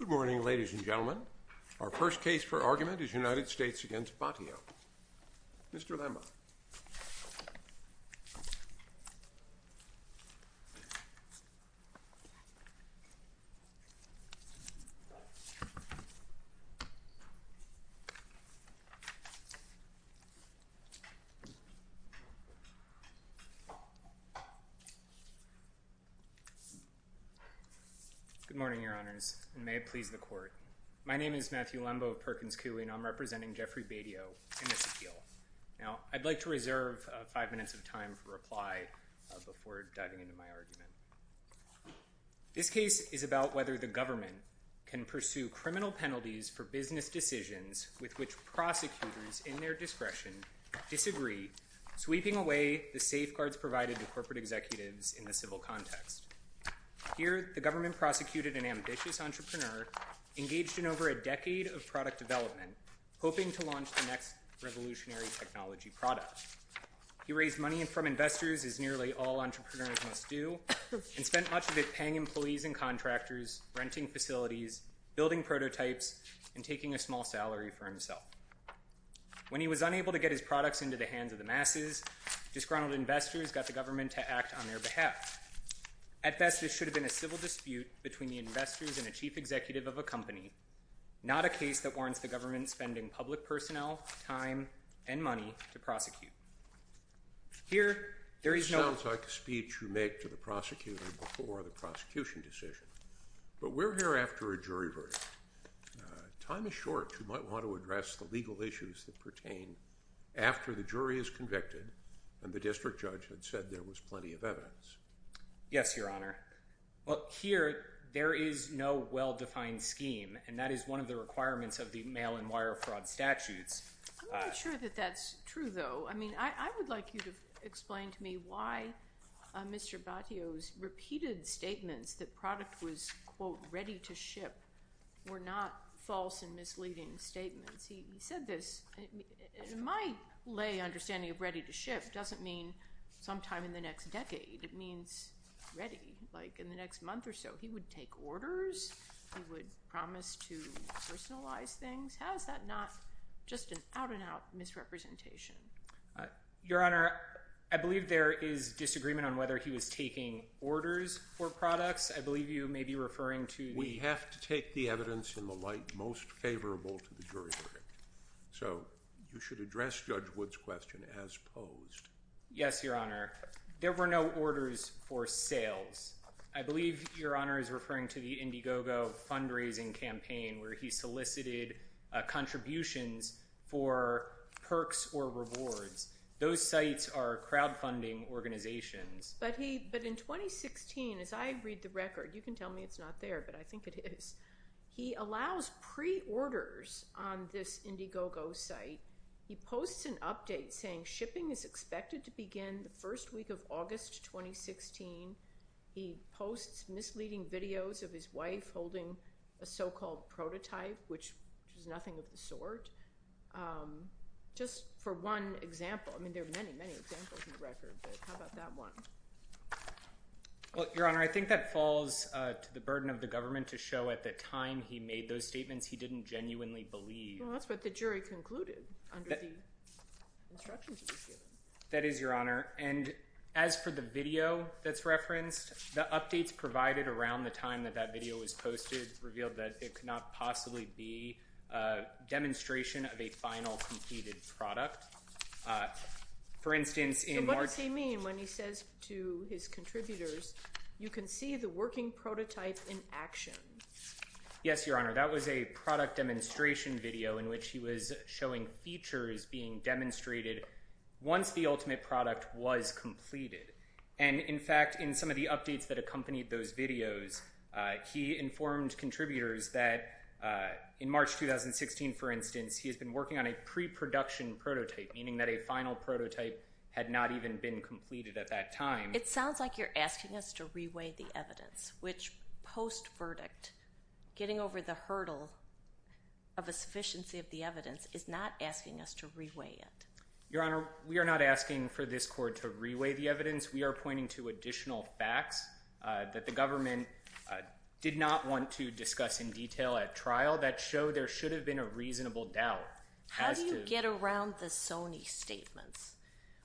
Good morning, ladies and gentlemen. Our first case for argument is United States v. Batio. Mr. Lamba. Good morning, Your Honors, and may it please the Court. My name is Matthew Lamba of Perkins Coie, and I'm representing Jeffrey Batio in this appeal. Now, I'd like to reserve five minutes of time for reply before diving into my argument. This case is about whether the government can pursue criminal penalties for business decisions with which prosecutors in their discretion disagree, sweeping away the safeguards provided to corporate executives in the civil context. Here, the government prosecuted an ambitious entrepreneur engaged in over a decade of product development, hoping to launch the next revolutionary technology product. He raised money from investors, as nearly all entrepreneurs must do, and spent much of it paying employees and contractors, renting facilities, building prototypes, and taking a small salary for himself. When he was unable to get his products into the hands of the masses, disgruntled investors got the government to act on their behalf. At best, it should have been a civil dispute between the investors and a chief executive of a company, not a case that warrants the government spending public personnel, time, and money to prosecute. Here, there is no— This sounds like a speech you make to the prosecutor before the prosecution decision, but we're here after a jury verdict. Time is short. You might want to address the legal issues that pertain after the jury is convicted and the district judge had said there was plenty of evidence. Yes, Your Honor. Here, there is no well-defined scheme, and that is one of the requirements of the mail-and-wire fraud statutes. I'm not sure that that's true, though. I mean, I would like you to explain to me why Mr. Battio's repeated statements that product was, quote, ready to ship were not false and misleading statements. He said this. In my lay understanding of ready to ship doesn't mean sometime in the next decade. It means ready, like in the next month or so. He would take orders. He would promise to personalize things. How is that not just an out-and-out misrepresentation? Your Honor, I believe there is disagreement on whether he was taking orders for products. I believe you may be referring to the- We have to take the evidence in the light most favorable to the jury verdict. So you should address Judge Wood's question as posed. Yes, Your Honor. There were no orders for sales. I believe Your Honor is referring to the Indiegogo fundraising campaign where he solicited contributions for perks or rewards. Those sites are crowdfunding organizations. But in 2016, as I read the record, you can tell me it's not there, but I think it is, he allows pre-orders on this Indiegogo site. He posts an update saying shipping is expected to begin the first week of August 2016. He posts misleading videos of his wife holding a so-called prototype, which is nothing of the sort. Just for one example. I mean, there are many, many examples in the record, but how about that one? Well, Your Honor, I think that falls to the burden of the government to show at the time he made those statements, he didn't genuinely believe. Well, that's what the jury concluded under the instructions he was given. That is, Your Honor. And as for the video that's referenced, the updates provided around the time that that video was posted revealed that it could not possibly be a demonstration of a final completed product. So what does he mean when he says to his contributors, you can see the working prototype in action? Yes, Your Honor. That was a product demonstration video in which he was showing features being And, in fact, in some of the updates that accompanied those videos, he informed contributors that in March 2016, for instance, he has been working on a pre-production prototype, meaning that a final prototype had not even been completed at that time. It sounds like you're asking us to reweigh the evidence, which post-verdict, getting over the hurdle of a sufficiency of the evidence is not asking us to reweigh it. Your Honor, we are not asking for this court to reweigh the evidence. We are pointing to additional facts that the government did not want to discuss in detail at trial that show there should have been a reasonable doubt. How do you get around the Sony statements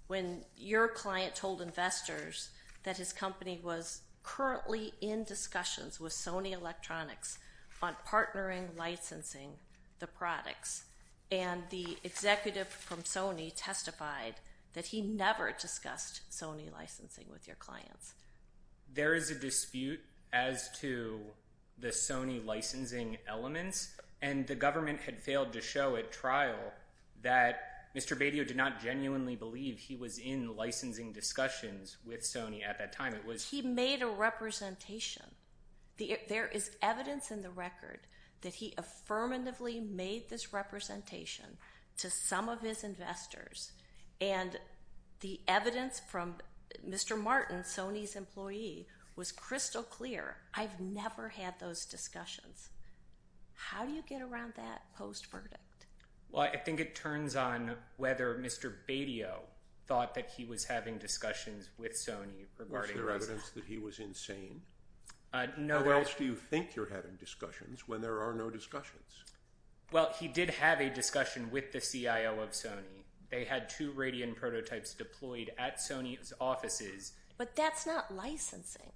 when your client told investors that his company was currently in discussions with Sony Electronics on partnering licensing the products, and the executive from Sony testified that he never discussed Sony licensing with your clients? There is a dispute as to the Sony licensing elements, and the government had failed to show at trial that Mr. Badio did not genuinely believe he was in licensing discussions with Sony at that time. He made a representation. There is evidence in the record that he affirmatively made this representation to some of his investors, and the evidence from Mr. Martin, Sony's employee, was crystal clear. I've never had those discussions. How do you get around that post-verdict? Well, I think it turns on whether Mr. Badio thought that he was having discussions with Sony regarding licensing. Of course that he was insane. How else do you think you're having discussions when there are no discussions? Well, he did have a discussion with the CIO of Sony. They had two Radian prototypes deployed at Sony's offices. But that's not licensing.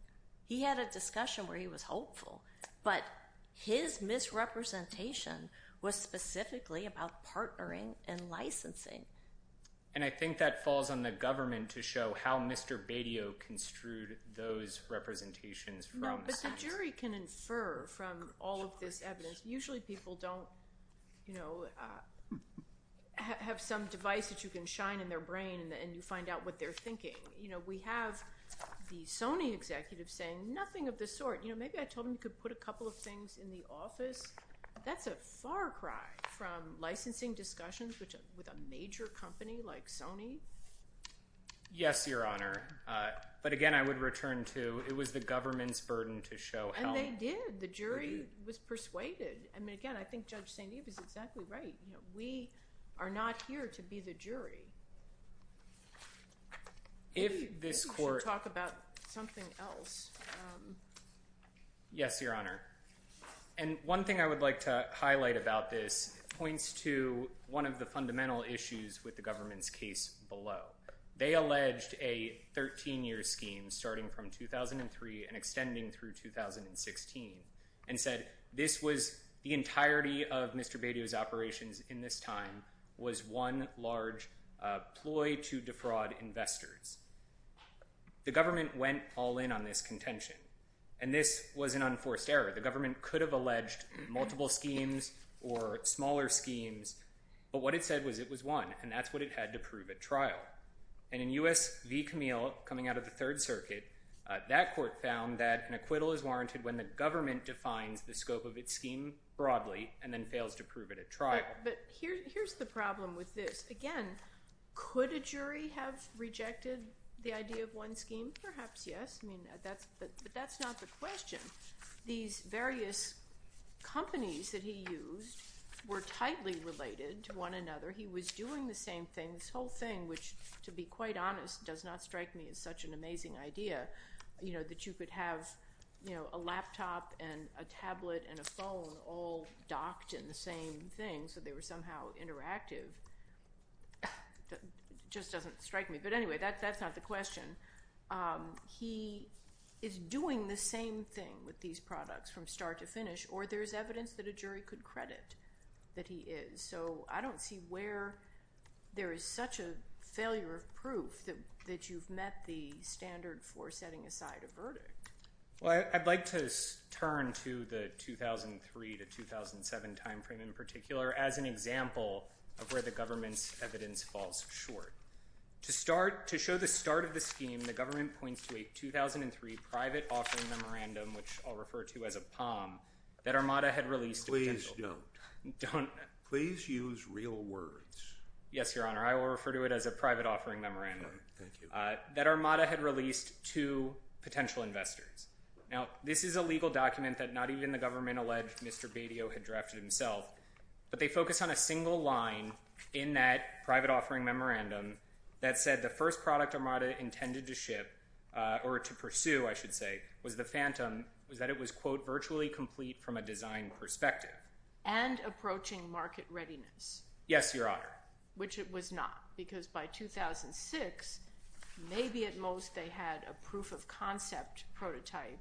He had a discussion where he was hopeful, but his misrepresentation was specifically about partnering and licensing. And I think that falls on the government to show how Mr. Badio construed those representations from Sony. No, but the jury can infer from all of this evidence. Usually people don't have some device that you can shine in their brain and you find out what they're thinking. We have the Sony executive saying nothing of the sort. Maybe I told him he could put a couple of things in the office. That's a far cry from licensing discussions with a major company like Sony. Yes, Your Honor. But, again, I would return to it was the government's burden to show help. And they did. The jury was persuaded. Again, I think Judge St. Eve is exactly right. We are not here to be the jury. Maybe we should talk about something else. Yes, Your Honor. And one thing I would like to highlight about this points to one of the fundamental issues with the government's case below. They alleged a 13-year scheme starting from 2003 and extending through 2016 and said this was the entirety of Mr. Badio's operations in this time was one large ploy to defraud investors. The government went all in on this contention, and this was an unforced error. The government could have alleged multiple schemes or smaller schemes, but what it said was it was one, and that's what it had to prove at trial. And in U.S. v. Camille, coming out of the Third Circuit, that court found that an acquittal is warranted when the government defines the scope of its scheme broadly and then fails to prove it at trial. But here's the problem with this. Again, could a jury have rejected the idea of one scheme? Perhaps, yes. But that's not the question. These various companies that he used were tightly related to one another. He was doing the same thing, this whole thing, which, to be quite honest, does not strike me as such an amazing idea that you could have a laptop and a tablet and a phone all docked in the same thing so they were somehow interactive. It just doesn't strike me. But anyway, that's not the question. He is doing the same thing with these products from start to finish, or there's evidence that a jury could credit that he is. So I don't see where there is such a failure of proof that you've met the standard for setting aside a verdict. Well, I'd like to turn to the 2003 to 2007 timeframe in particular as an example of where the government's evidence falls short. To start, to show the start of the scheme, the government points to a 2003 private offering memorandum, which I'll refer to as a POM, that Armada had released. Please don't. Don't. Please use real words. Yes, Your Honor. I will refer to it as a private offering memorandum that Armada had released to potential investors. Now, this is a legal document that not even the government-alleged Mr. Badio had drafted himself, but they focus on a single line in that private offering memorandum that said the first product Armada intended to ship, or to pursue, I should say, was the Phantom, was that it was, quote, virtually complete from a design perspective. And approaching market readiness. Yes, Your Honor. Which it was not, because by 2006, maybe at most they had a proof-of-concept prototype,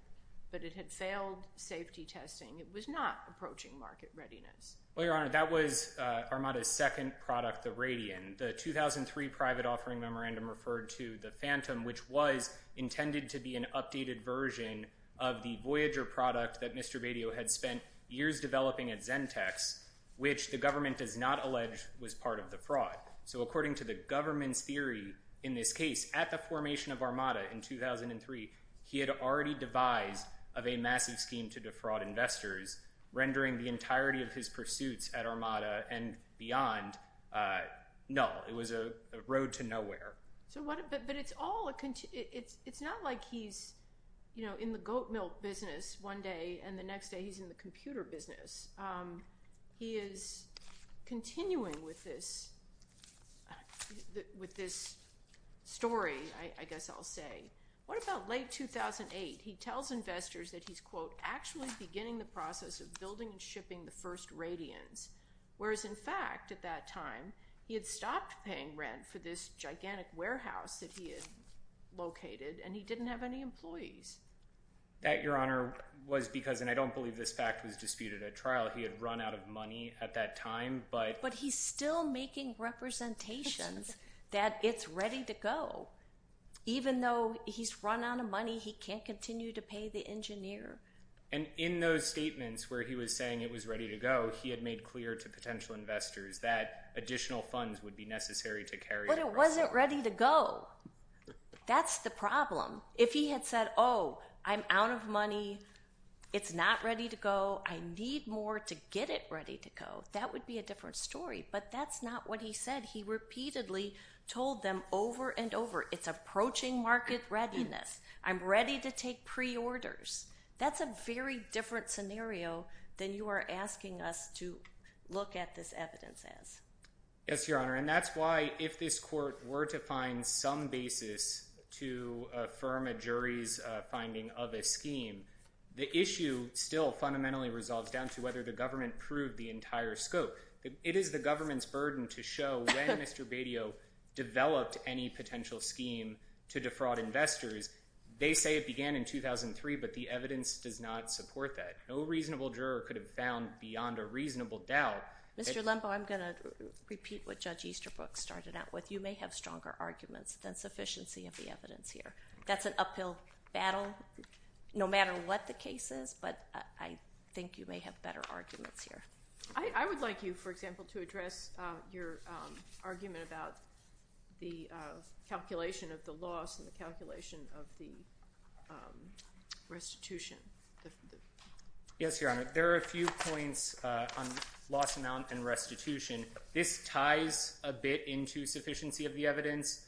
but it had failed safety testing. It was not approaching market readiness. Well, Your Honor, that was Armada's second product, the Radian. The 2003 private offering memorandum referred to the Phantom, which was intended to be an updated version of the Voyager product that Mr. Badio had spent years developing at Zentex, which the government does not allege was part of the fraud. So according to the government's theory in this case, at the formation of Armada in 2003, he had already devised a massive scheme to defraud investors, rendering the entirety of his pursuits at Armada and beyond null. It was a road to nowhere. But it's not like he's in the goat milk business one day, and the next day he's in the computer business. He is continuing with this story, I guess I'll say. What about late 2008? He tells investors that he's, quote, actually beginning the process of building and shipping the first Radians, whereas, in fact, at that time he had stopped paying rent for this gigantic warehouse that he had located, and he didn't have any employees. That, Your Honor, was because, and I don't believe this fact was disputed at trial, he had run out of money at that time. But he's still making representations that it's ready to go. Even though he's run out of money, he can't continue to pay the engineer. And in those statements where he was saying it was ready to go, he had made clear to potential investors that additional funds would be necessary to carry it. But it wasn't ready to go. That's the problem. If he had said, oh, I'm out of money, it's not ready to go, I need more to get it ready to go, that would be a different story. But that's not what he said. He repeatedly told them over and over, it's approaching market readiness. I'm ready to take preorders. That's a very different scenario than you are asking us to look at this evidence as. Yes, Your Honor. And that's why if this court were to find some basis to affirm a jury's finding of a scheme, the issue still fundamentally resolves down to whether the government proved the entire scope. It is the government's burden to show when Mr. Lembo, I'm going to repeat what Judge Easterbrook started out with. You may have stronger arguments than sufficiency of the evidence here. That's an uphill battle, no matter what the case is, but I think you may have better arguments here. I would like you, for example, to address your argument about the calculation of the loss and the I think it's a good argument to address the loss and the calculation of the restitution. Yes, Your Honor. There are a few points on loss amount and restitution. This ties a bit into sufficiency of the evidence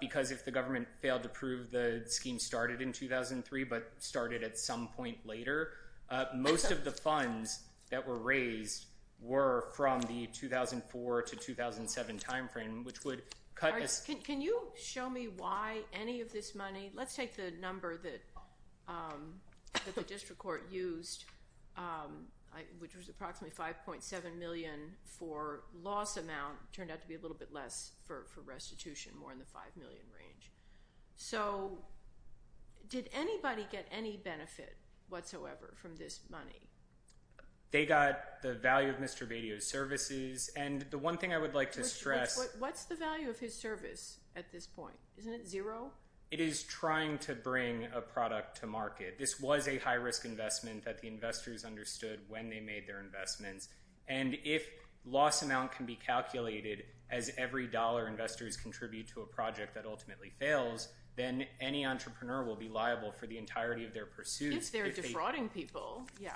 because if the government failed to prove the scheme started in 2003, but started at some point later most of the funds that were raised were from the 2004 to 2007 timeframe, which would cut. Can you show me why any of this money, let's take the number that the district court used, which was approximately 5.7 million for loss amount, turned out to be a little bit less for restitution, more in the 5 million range. So did anybody get any benefit whatsoever from this money? They got the value of Mr. Badio's services and the one thing I would like to stress, what's the value of his service at this point? Isn't it zero? It is trying to bring a product to market. This was a high risk investment that the investors understood when they made their investments. And if loss amount can be calculated as every dollar investors contribute to a project that ultimately fails, then any entrepreneur will be liable for the entirety of their pursuits. If they're defrauding people. Yeah.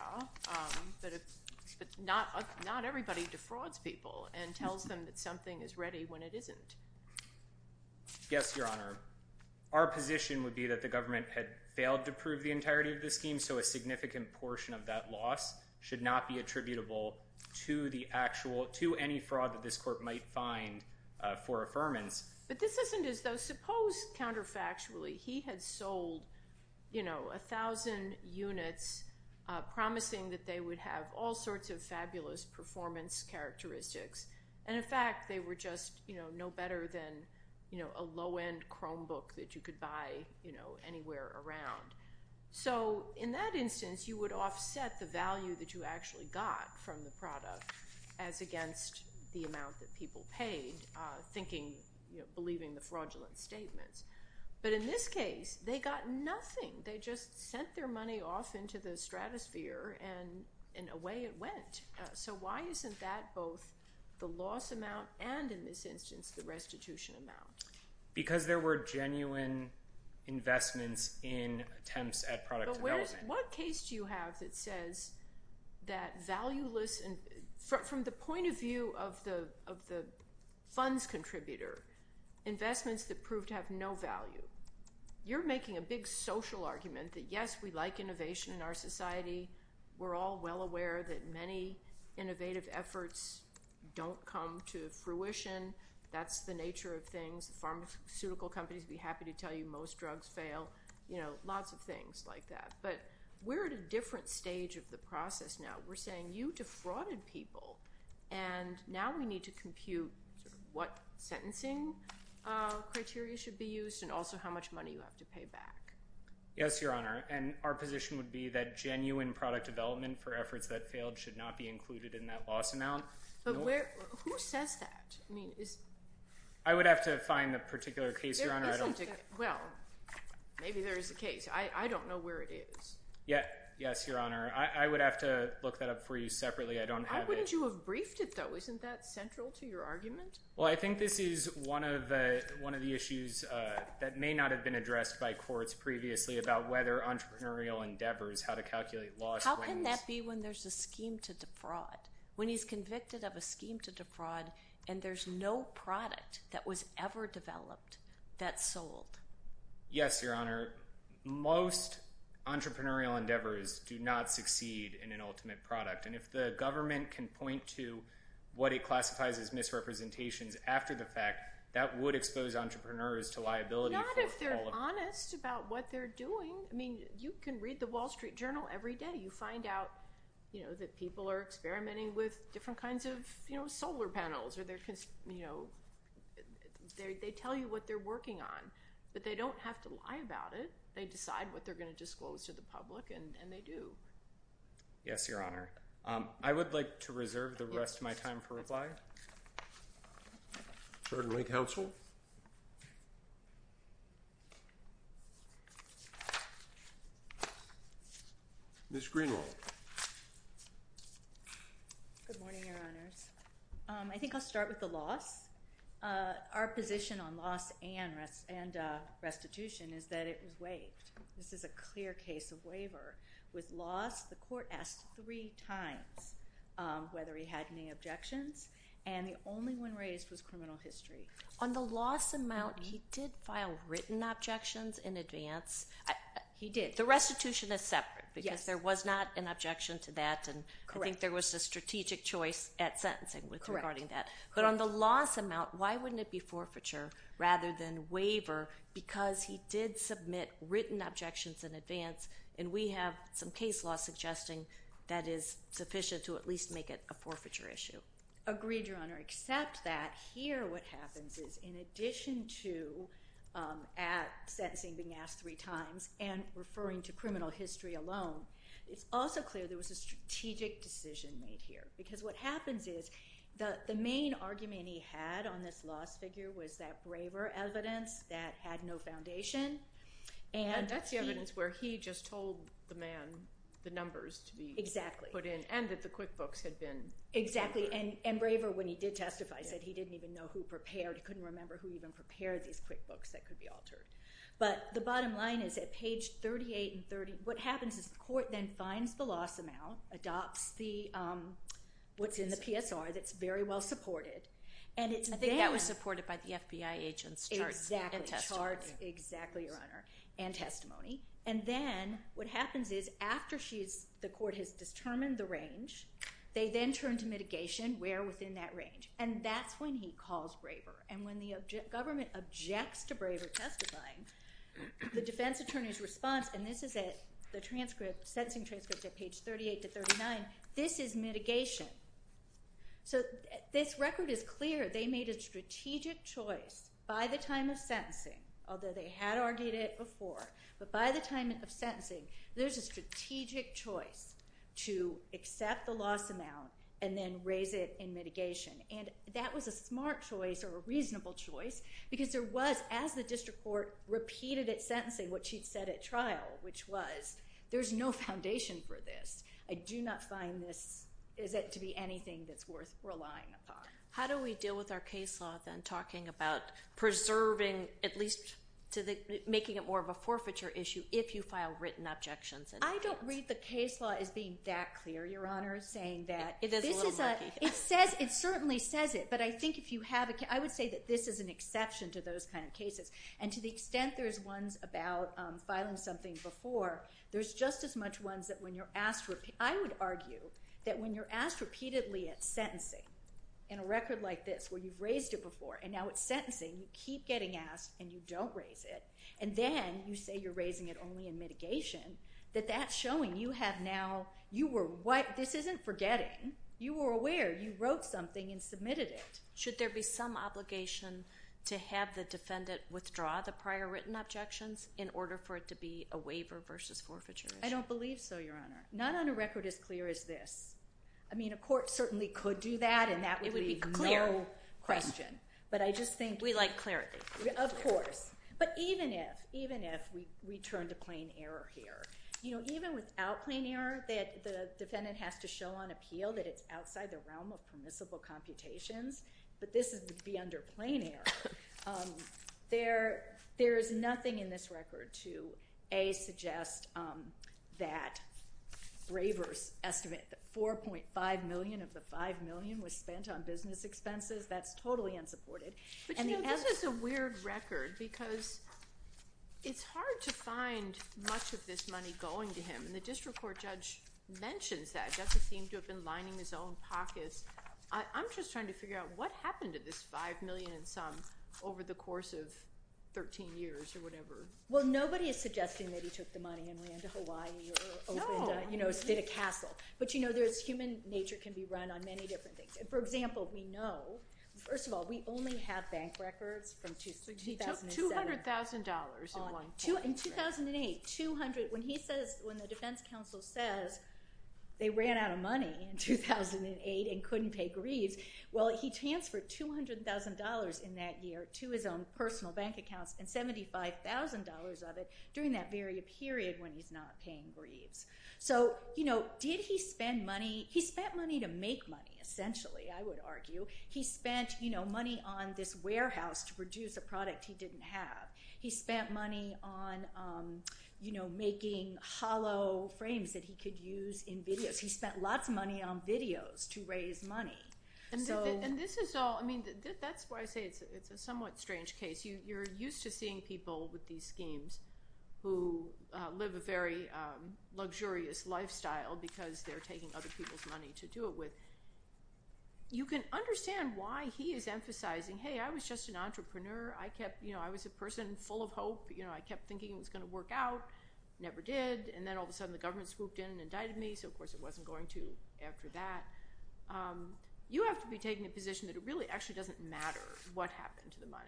But not, not everybody defrauds people and tells them that something is ready when it isn't. Yes, Your Honor. Our position would be that the government had failed to prove the entirety of the scheme. So a significant portion of that loss should not be attributable to the actual, to any fraud that this court might find for affirmance. But this isn't as though suppose counterfactually he had sold, you know, a thousand units, promising that they would have all sorts of fabulous performance characteristics. And in fact, they were just, you know, no better than, you know, a low end Chromebook that you could buy, you know, anywhere around. So in that instance, you would offset the value that you actually got from the product as against the amount that people paid thinking, you know, believing the fraudulent statements. But in this case, they got nothing. They just sent their money off into the stratosphere and in a way it went. So why isn't that both the loss amount and in this instance, the restitution amount? Because there were genuine investments in attempts at product development. What case do you have that says that valueless and from, from the point of view of the, of the funds contributor, investments that proved to have no value, you're making a big social argument that yes, we like innovation in our society. We're all well aware that many innovative efforts don't come to fruition. That's the nature of things. The pharmaceutical companies would be happy to tell you most drugs fail, you know, lots of things like that, but we're at a different stage of the process. Now we're saying you defrauded people and now we need to compute what sentencing criteria should be used and also how much money you have to pay back. Yes, Your Honor. And our position would be that genuine product development for efforts that failed should not be included in that loss amount. Who says that? I mean, I would have to find a particular case, Your Honor. Well, maybe there is a case. I don't know where it is. Yeah. Yes, Your Honor. I would have to look that up for you separately. I don't have it. You have briefed it though. Isn't that central to your argument? Well, I think this is one of the issues that may not have been addressed by courts previously about whether entrepreneurial endeavors, how to calculate loss. How can that be when there's a scheme to defraud, when he's convicted of a scheme to defraud and there's no product that was ever developed that sold? Yes, Your Honor. Most entrepreneurial endeavors do not succeed in an ultimate product. And if the government can point to what it classifies as misrepresentations after the fact, that would expose entrepreneurs to liability. Not if they're honest about what they're doing. I mean, you can read the Wall Street Journal every day. You find out, you know, that people are experimenting with different kinds of, you know, solar panels or they're, you know, they tell you what they're working on, but they don't have to lie about it. They decide what they're going to disclose to the public and they do. Yes, Your Honor. I would like to reserve the rest of my time for reply. Certainly, counsel. Ms. Greenwald. Good morning, Your Honors. I think I'll start with the loss. Our position on loss and restitution is that it was waived. This is a clear case of waiver with loss. The court asked three times whether he had any objections and the only one raised was criminal history. On the loss amount, he did file written objections in advance. He did. The restitution is separate because there was not an objection to that and I think there was a strategic choice at sentencing regarding that. But on the loss amount, why wouldn't it be forfeiture rather than waiver because he did submit written objections in advance and we have some case law suggesting that is sufficient to at least make it a forfeiture issue. Agreed, Your Honor, except that here what happens is, in addition to at sentencing being asked three times and referring to criminal history alone, it's also clear there was a strategic decision made here because what happens is the main argument he had on this loss figure was that braver evidence that had no foundation. That's the evidence where he just told the man the numbers to be put in and that the QuickBooks had been... Exactly, and braver when he did testify, he said he didn't even know who prepared, he couldn't remember who even prepared these QuickBooks that could be altered. But the bottom line is at page 38 and 30, what happens is the court then finds the loss amount, adopts what's in the PSR that's very well supported. I think that was supported by the FBI agents' charts and testimony. Charts, exactly, Your Honor, and testimony. And then what happens is after the court has determined the range, they then turn to mitigation where within that range. And that's when he calls braver. And when the government objects to braver testifying, the defense attorney's response, and this is at the sentencing transcript at page 38 to 39, this is mitigation. So this record is clear. They made a strategic choice by the time of sentencing, although they had argued it before, but by the time of sentencing, there's a strategic choice to accept the loss amount and then raise it in mitigation. And that was a smart choice or a reasonable choice because there was, as the district court repeated at sentencing what she'd said at trial, which was, there's no foundation for this. I do not find this... is it to be anything that's worth relying upon. How do we deal with our case law, then, talking about preserving at least to the... making it more of a forfeiture issue if you file written objections in advance? I don't read the case law as being that clear, Your Honor, saying that... It is a little murky. It certainly says it, but I think if you have... I would say that this is an exception to those kind of cases. And to the extent there's ones about filing something before, there's just as much ones that when you're asked... I would argue that when you're asked repeatedly at sentencing in a record like this where you've raised it before and now it's sentencing, you keep getting asked and you don't raise it, and then you say you're raising it only in mitigation, that that's showing you have now... You were... This isn't forgetting. You were aware. You wrote something and submitted it. Should there be some obligation to have the defendant withdraw the prior written objections in order for it to be a waiver versus forfeiture issue? I don't believe so, Your Honor. Not on a record as clear as this. I mean, a court certainly could do that, and that would be no question. It would be clear. But I just think... We like clarity. Of course. But even if we turn to plain error here, even without plain error, the defendant has to show on appeal that it's outside the realm of permissible computations, but this would be under plain error. There is nothing in this record to, A, make that braver's estimate that $4.5 million of the $5 million was spent on business expenses. That's totally unsupported. But, you know, this is a weird record because it's hard to find much of this money going to him, and the district court judge mentions that. The judge seemed to have been lining his own pockets. I'm just trying to figure out what happened to this $5 million and some over the course of 13 years or whatever. Well, nobody is suggesting that he took the money and ran to Hawaii or opened, you know, did a castle. But, you know, human nature can be run on many different things. For example, we know... First of all, we only have bank records from 2007. He took $200,000 in one case. In 2008, 200... When the defense counsel says they ran out of money in 2008 and couldn't pay grieves, well, he transferred $200,000 in that year to his own personal bank accounts and $75,000 of it during that very period when he's not paying grieves. So, you know, did he spend money? He spent money to make money, essentially, I would argue. He spent, you know, money on this warehouse to produce a product he didn't have. He spent money on, you know, making hollow frames that he could use in videos. He spent lots of money on videos to raise money. And this is all... I mean, that's why I say it's a somewhat strange case. You're used to seeing people with these schemes who live a very luxurious lifestyle because they're taking other people's money to do it with. You can understand why he is emphasizing, hey, I was just an entrepreneur. I kept, you know, I was a person full of hope. You know, I kept thinking it was going to work out. Never did. And then, all of a sudden, the government swooped in and indicted me, so, of course, it wasn't going to after that. You have to be taking a position that it really actually doesn't matter what happened to the money.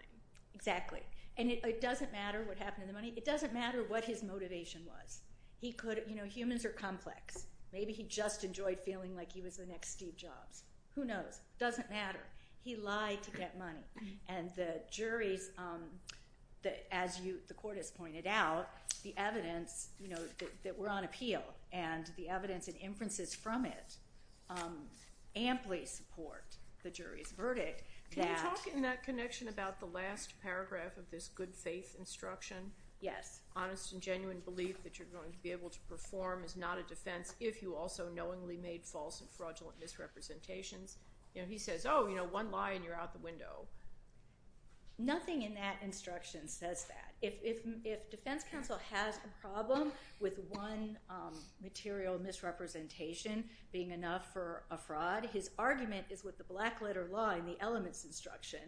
Exactly. And it doesn't matter what happened to the money. It doesn't matter what his motivation was. He could... You know, humans are complex. Maybe he just enjoyed feeling like he was the next Steve Jobs. Who knows? Doesn't matter. He lied to get money. And the jury's... As the court has pointed out, the evidence, you know, that we're on appeal and the evidence and inferences from it amply support the jury's verdict that... Can you talk in that connection about the last paragraph of this good faith instruction? Yes. Honest and genuine belief that you're going to be able to perform is not a defence if you also knowingly made false and fraudulent misrepresentations. You know, he says, oh, you know, one lie and you're out the window. Nothing in that instruction says that. If defence counsel has a problem with one material misrepresentation being enough for a fraud, his argument is with the black letter law in the elements instruction,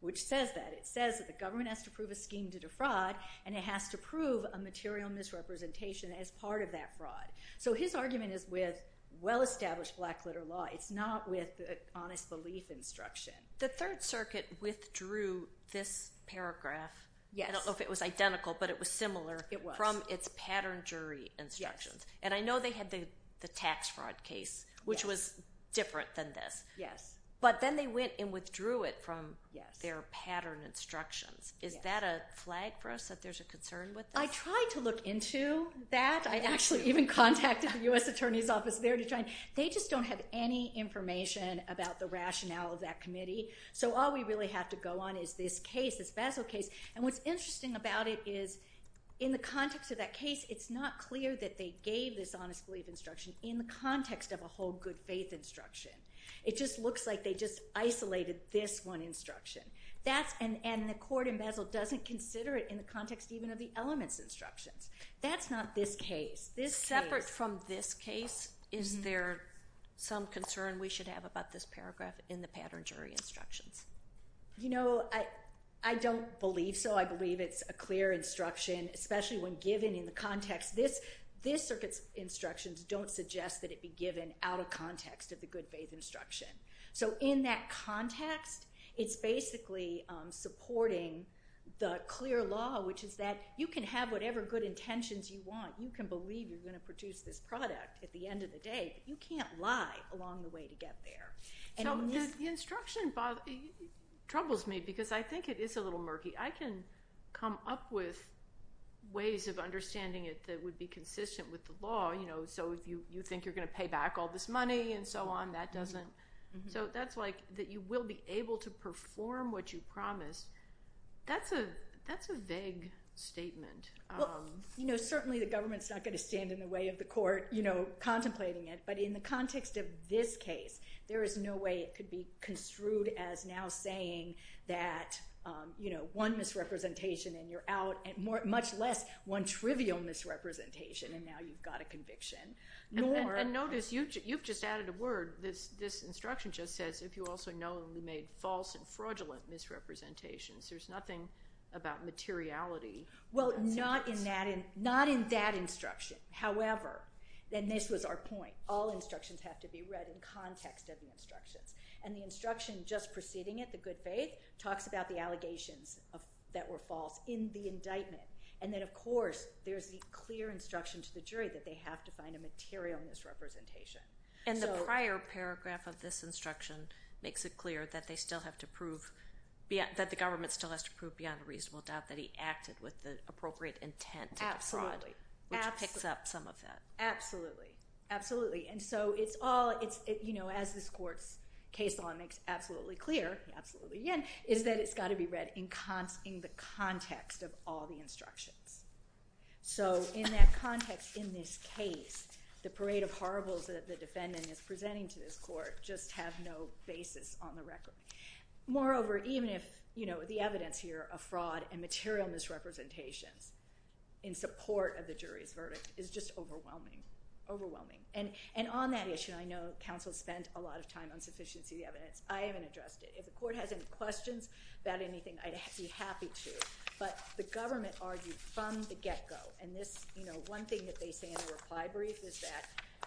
which says that. It says that the government has to prove a scheme to defraud and it has to prove a material misrepresentation as part of that fraud. So his argument is with well-established black letter law. It's not with honest belief instruction. The Third Circuit withdrew this paragraph. Yes. I don't know if it was identical, but it was similar... It was. ...from its pattern jury instructions. And I know they had the tax fraud case, which was different than this. Yes. But then they went and withdrew it from their pattern instructions. Yes. Is that a flag for us, that there's a concern with this? I tried to look into that. I actually even contacted the US Attorney's Office there to try. They just don't have any information about the rationale of that committee. So all we really have to go on is this case, this Basel case. And what's interesting about it is in the context of that case, it's not clear that they gave this honest belief instruction in the context of a whole good faith instruction. It just looks like they just isolated this one instruction. And the court in Basel doesn't consider it in the context even of the elements instructions. That's not this case. Separate from this case, is there some concern we should have about this paragraph in the pattern jury instructions? You know, I don't believe so. I believe it's a clear instruction, especially when given in the context. This circuit's instructions don't suggest that it be given out of context of the good faith instruction. So in that context, it's basically supporting the clear law, which is that you can have whatever good intentions you want. You can believe you're going to produce this product at the end of the day, but you can't lie along the way to get there. So the instruction troubles me because I think it is a little murky. I can come up with ways of understanding it that would be consistent with the law. So if you think you're going to pay back all this money and so on, that doesn't... So that's like that you will be able to perform what you promised. That's a vague statement. Well, you know, certainly the government's not going to stand in the way of the court, you know, contemplating it. But in the context of this case, there is no way it could be construed as now saying that, you know, one misrepresentation and you're out, much less one trivial misrepresentation and now you've got a conviction. And notice, you've just added a word. This instruction just says, if you also knowingly made false and fraudulent misrepresentations. There's nothing about materiality. Well, not in that instruction. However, and this was our point, all instructions have to be read in context of the instructions. And the instruction just preceding it, the good faith, talks about the allegations that were false in the indictment. And then, of course, there's the clear instruction to the jury that they have to find a material misrepresentation. And the prior paragraph of this instruction makes it clear that they still have to prove, that the government still has to prove beyond a reasonable doubt that he acted with the appropriate intent to defraud. Absolutely. Which picks up some of that. Absolutely. Absolutely. And so, as this court's case law makes absolutely clear, absolutely again, is that it's got to be read in the context of all the instructions. So, in that context, in this case, the parade of horribles that the defendant is presenting to this court just have no basis on the record. Moreover, even if the evidence here of fraud and material misrepresentations in support of the jury's verdict is just overwhelming. Overwhelming. And on that issue, I know counsel spent a lot of time on sufficiency of the evidence. I haven't addressed it. If the court has any questions about anything, I'd be happy to. But the government argued from the get-go. And this, you know, one thing that they say in the reply brief is that,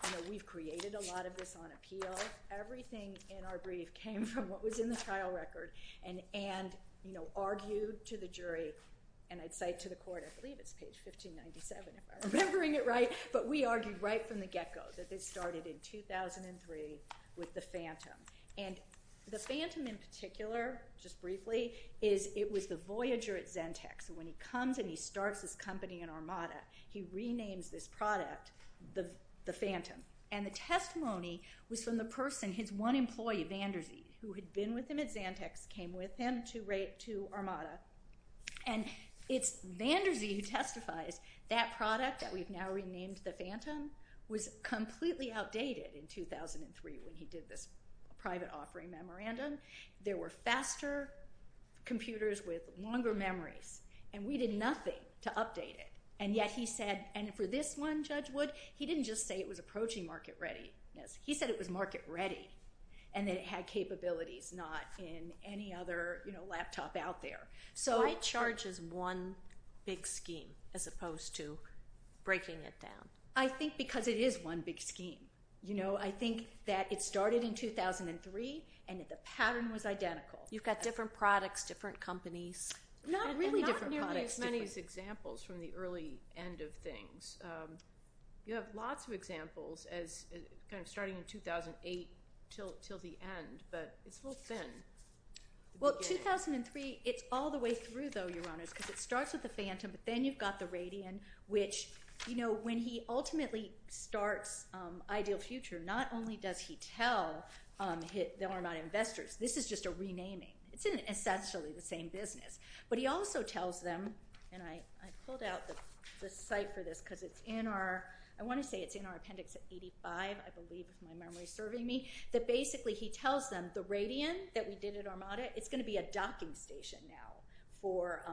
you know, we've created a lot of this on appeal. Everything in our brief came from what was in the trial record and, you know, argued to the jury. And I'd say to the court, I believe it's page 1597 if I'm remembering it right, but we argued right from the get-go that this started in 2003 with the phantom. And the phantom in particular, just briefly, is it was the voyager at Zentex. When he comes and he starts his company in Armada, he renames this product the phantom. And the testimony was from the person, his one employee, Van Der Zee, who had been with him at Zentex, came with him to Armada. And it's Van Der Zee who testifies. That product that we've now renamed the phantom was completely outdated in 2003 when he did this private offering memorandum. There were faster computers with longer memories. And we did nothing to update it. And yet he said, and for this one, Judge Wood, he didn't just say it was approaching market readiness. He said it was market ready and that it had capabilities not in any other, you know, laptop out there. Why charge as one big scheme as opposed to breaking it down? I think because it is one big scheme. You know, I think that it started in 2003 and the pattern was identical. You've got different products, different companies. Not really different products. Not nearly as many as examples from the early end of things. You have lots of examples as kind of starting in 2008 till the end, but it's a little thin. Well, 2003, it's all the way through, though, Your Honors, because it starts with the phantom, but then you've got the Radian, which, you know, when he ultimately starts Ideal Future, not only does he tell them they're not investors. This is just a renaming. It's essentially the same business. But he also tells them, and I pulled out the site for this because it's in our – I want to say it's in our appendix at 85, I believe, if my memory is serving me, that basically he tells them the Radian that we did at Armada, it's going to be a docking station now for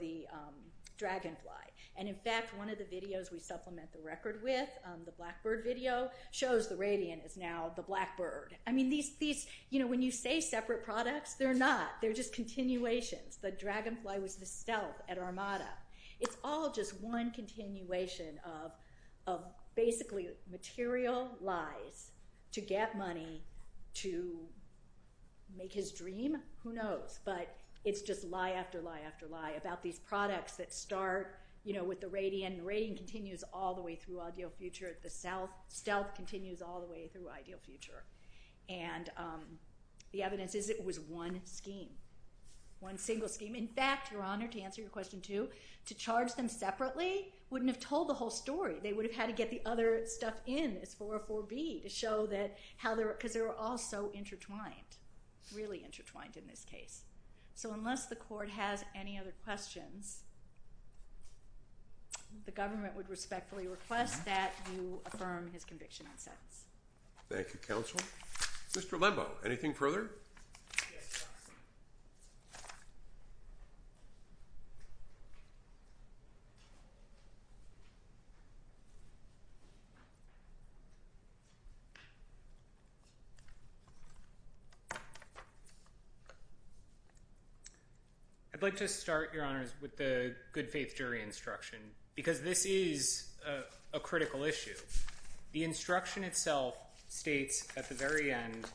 the Dragonfly. And, in fact, one of the videos we supplement the record with, the Blackbird video, shows the Radian is now the Blackbird. I mean, these – you know, when you say separate products, they're not. They're just continuations. The Dragonfly was the stealth at Armada. It's all just one continuation of basically material lies to get money to make his dream. Who knows? But it's just lie after lie after lie about these products that start, you know, with the Radian, and the Radian continues all the way through Ideal Future. The stealth continues all the way through Ideal Future. And the evidence is it was one scheme, one single scheme. In fact, Your Honor, to answer your question, too, to charge them separately wouldn't have told the whole story. They would have had to get the other stuff in as 404B to show that how they were – because they were all so intertwined, really intertwined in this case. So unless the court has any other questions, the government would respectfully request that you affirm his conviction and sentence. Thank you, counsel. Mr. Lembo, anything further? Yes, Your Honor. I'd like to start, Your Honors, with the good faith jury instruction because this is a critical issue. The instruction itself states at the very end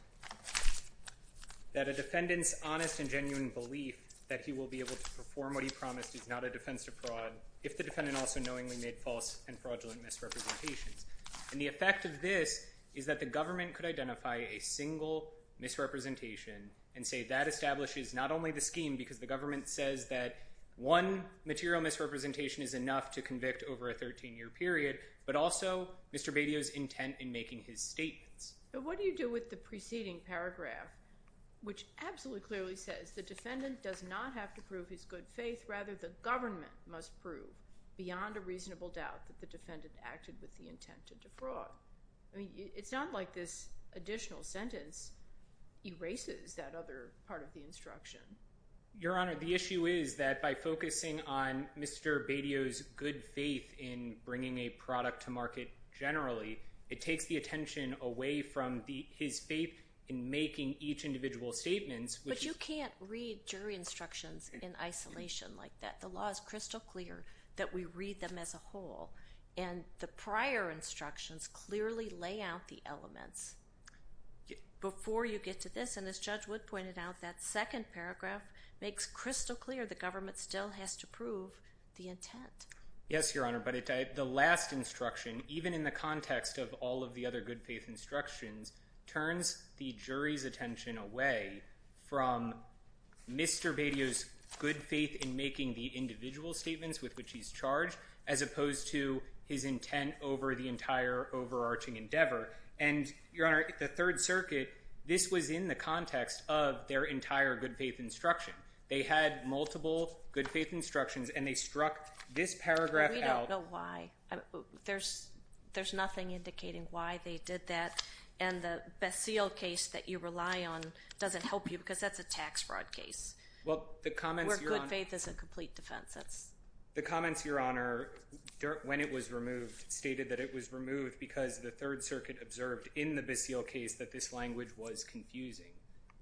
that a defendant's honest and genuine belief that he will be able to perform what he promised is not a defense to fraud if the defendant also knowingly made false and fraudulent misrepresentations. And the effect of this is that the government could identify a single misrepresentation and say that establishes not only the scheme because the government says that one material misrepresentation is enough to convict over a 13-year period, but also Mr. Badio's intent in making his statements. But what do you do with the preceding paragraph which absolutely clearly says the defendant does not have to prove his good faith, rather the government must prove beyond a reasonable doubt that the defendant acted with the intent to defraud? I mean, it's not like this additional sentence erases that other part of the instruction. Your Honor, the issue is that by focusing on Mr. Badio's good faith in bringing a product to market generally, it takes the attention away from his faith in making each individual statement. But you can't read jury instructions in isolation like that. The law is crystal clear that we read them as a whole. And the prior instructions clearly lay out the elements before you get to this. And as Judge Wood pointed out, that second paragraph makes crystal clear the government still has to prove the intent. Yes, Your Honor, but the last instruction, even in the context of all of the other good faith instructions, turns the jury's attention away from Mr. Badio's good faith in making the individual statements with which he's charged as opposed to his intent over the entire overarching endeavor. And, Your Honor, the Third Circuit, this was in the context of their entire good faith instruction. They had multiple good faith instructions, and they struck this paragraph out. We don't know why. There's nothing indicating why they did that. And the Basile case that you rely on doesn't help you because that's a tax fraud case where good faith is a complete defense. The comments, Your Honor, when it was removed, stated that it was removed because the Third Circuit observed in the Basile case that this language was confusing,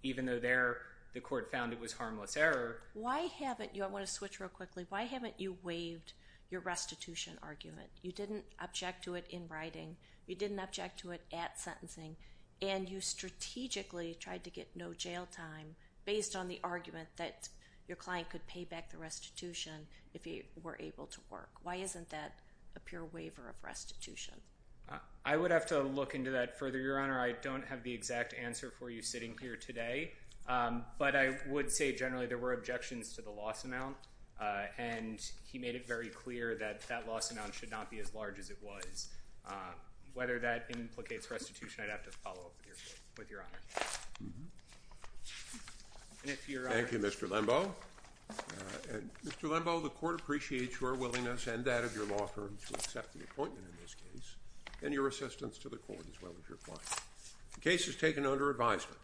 even though there the court found it was harmless error. Why haven't you, I want to switch real quickly, why haven't you waived your restitution argument? You didn't object to it in writing. You didn't object to it at sentencing. And you strategically tried to get no jail time based on the argument that your client could pay back the restitution if he were able to work. Why isn't that a pure waiver of restitution? I would have to look into that further, Your Honor. I don't have the exact answer for you sitting here today, but I would say generally there were objections to the loss amount, and he made it very clear that that loss amount should not be as large as it was. Whether that implicates restitution, I'd have to follow up with Your Honor. Thank you, Mr. Lembo. Mr. Lembo, the court appreciates your willingness and that of your law firm to accept the appointment in this case and your assistance to the court as well as your client. The case is taken under advisement.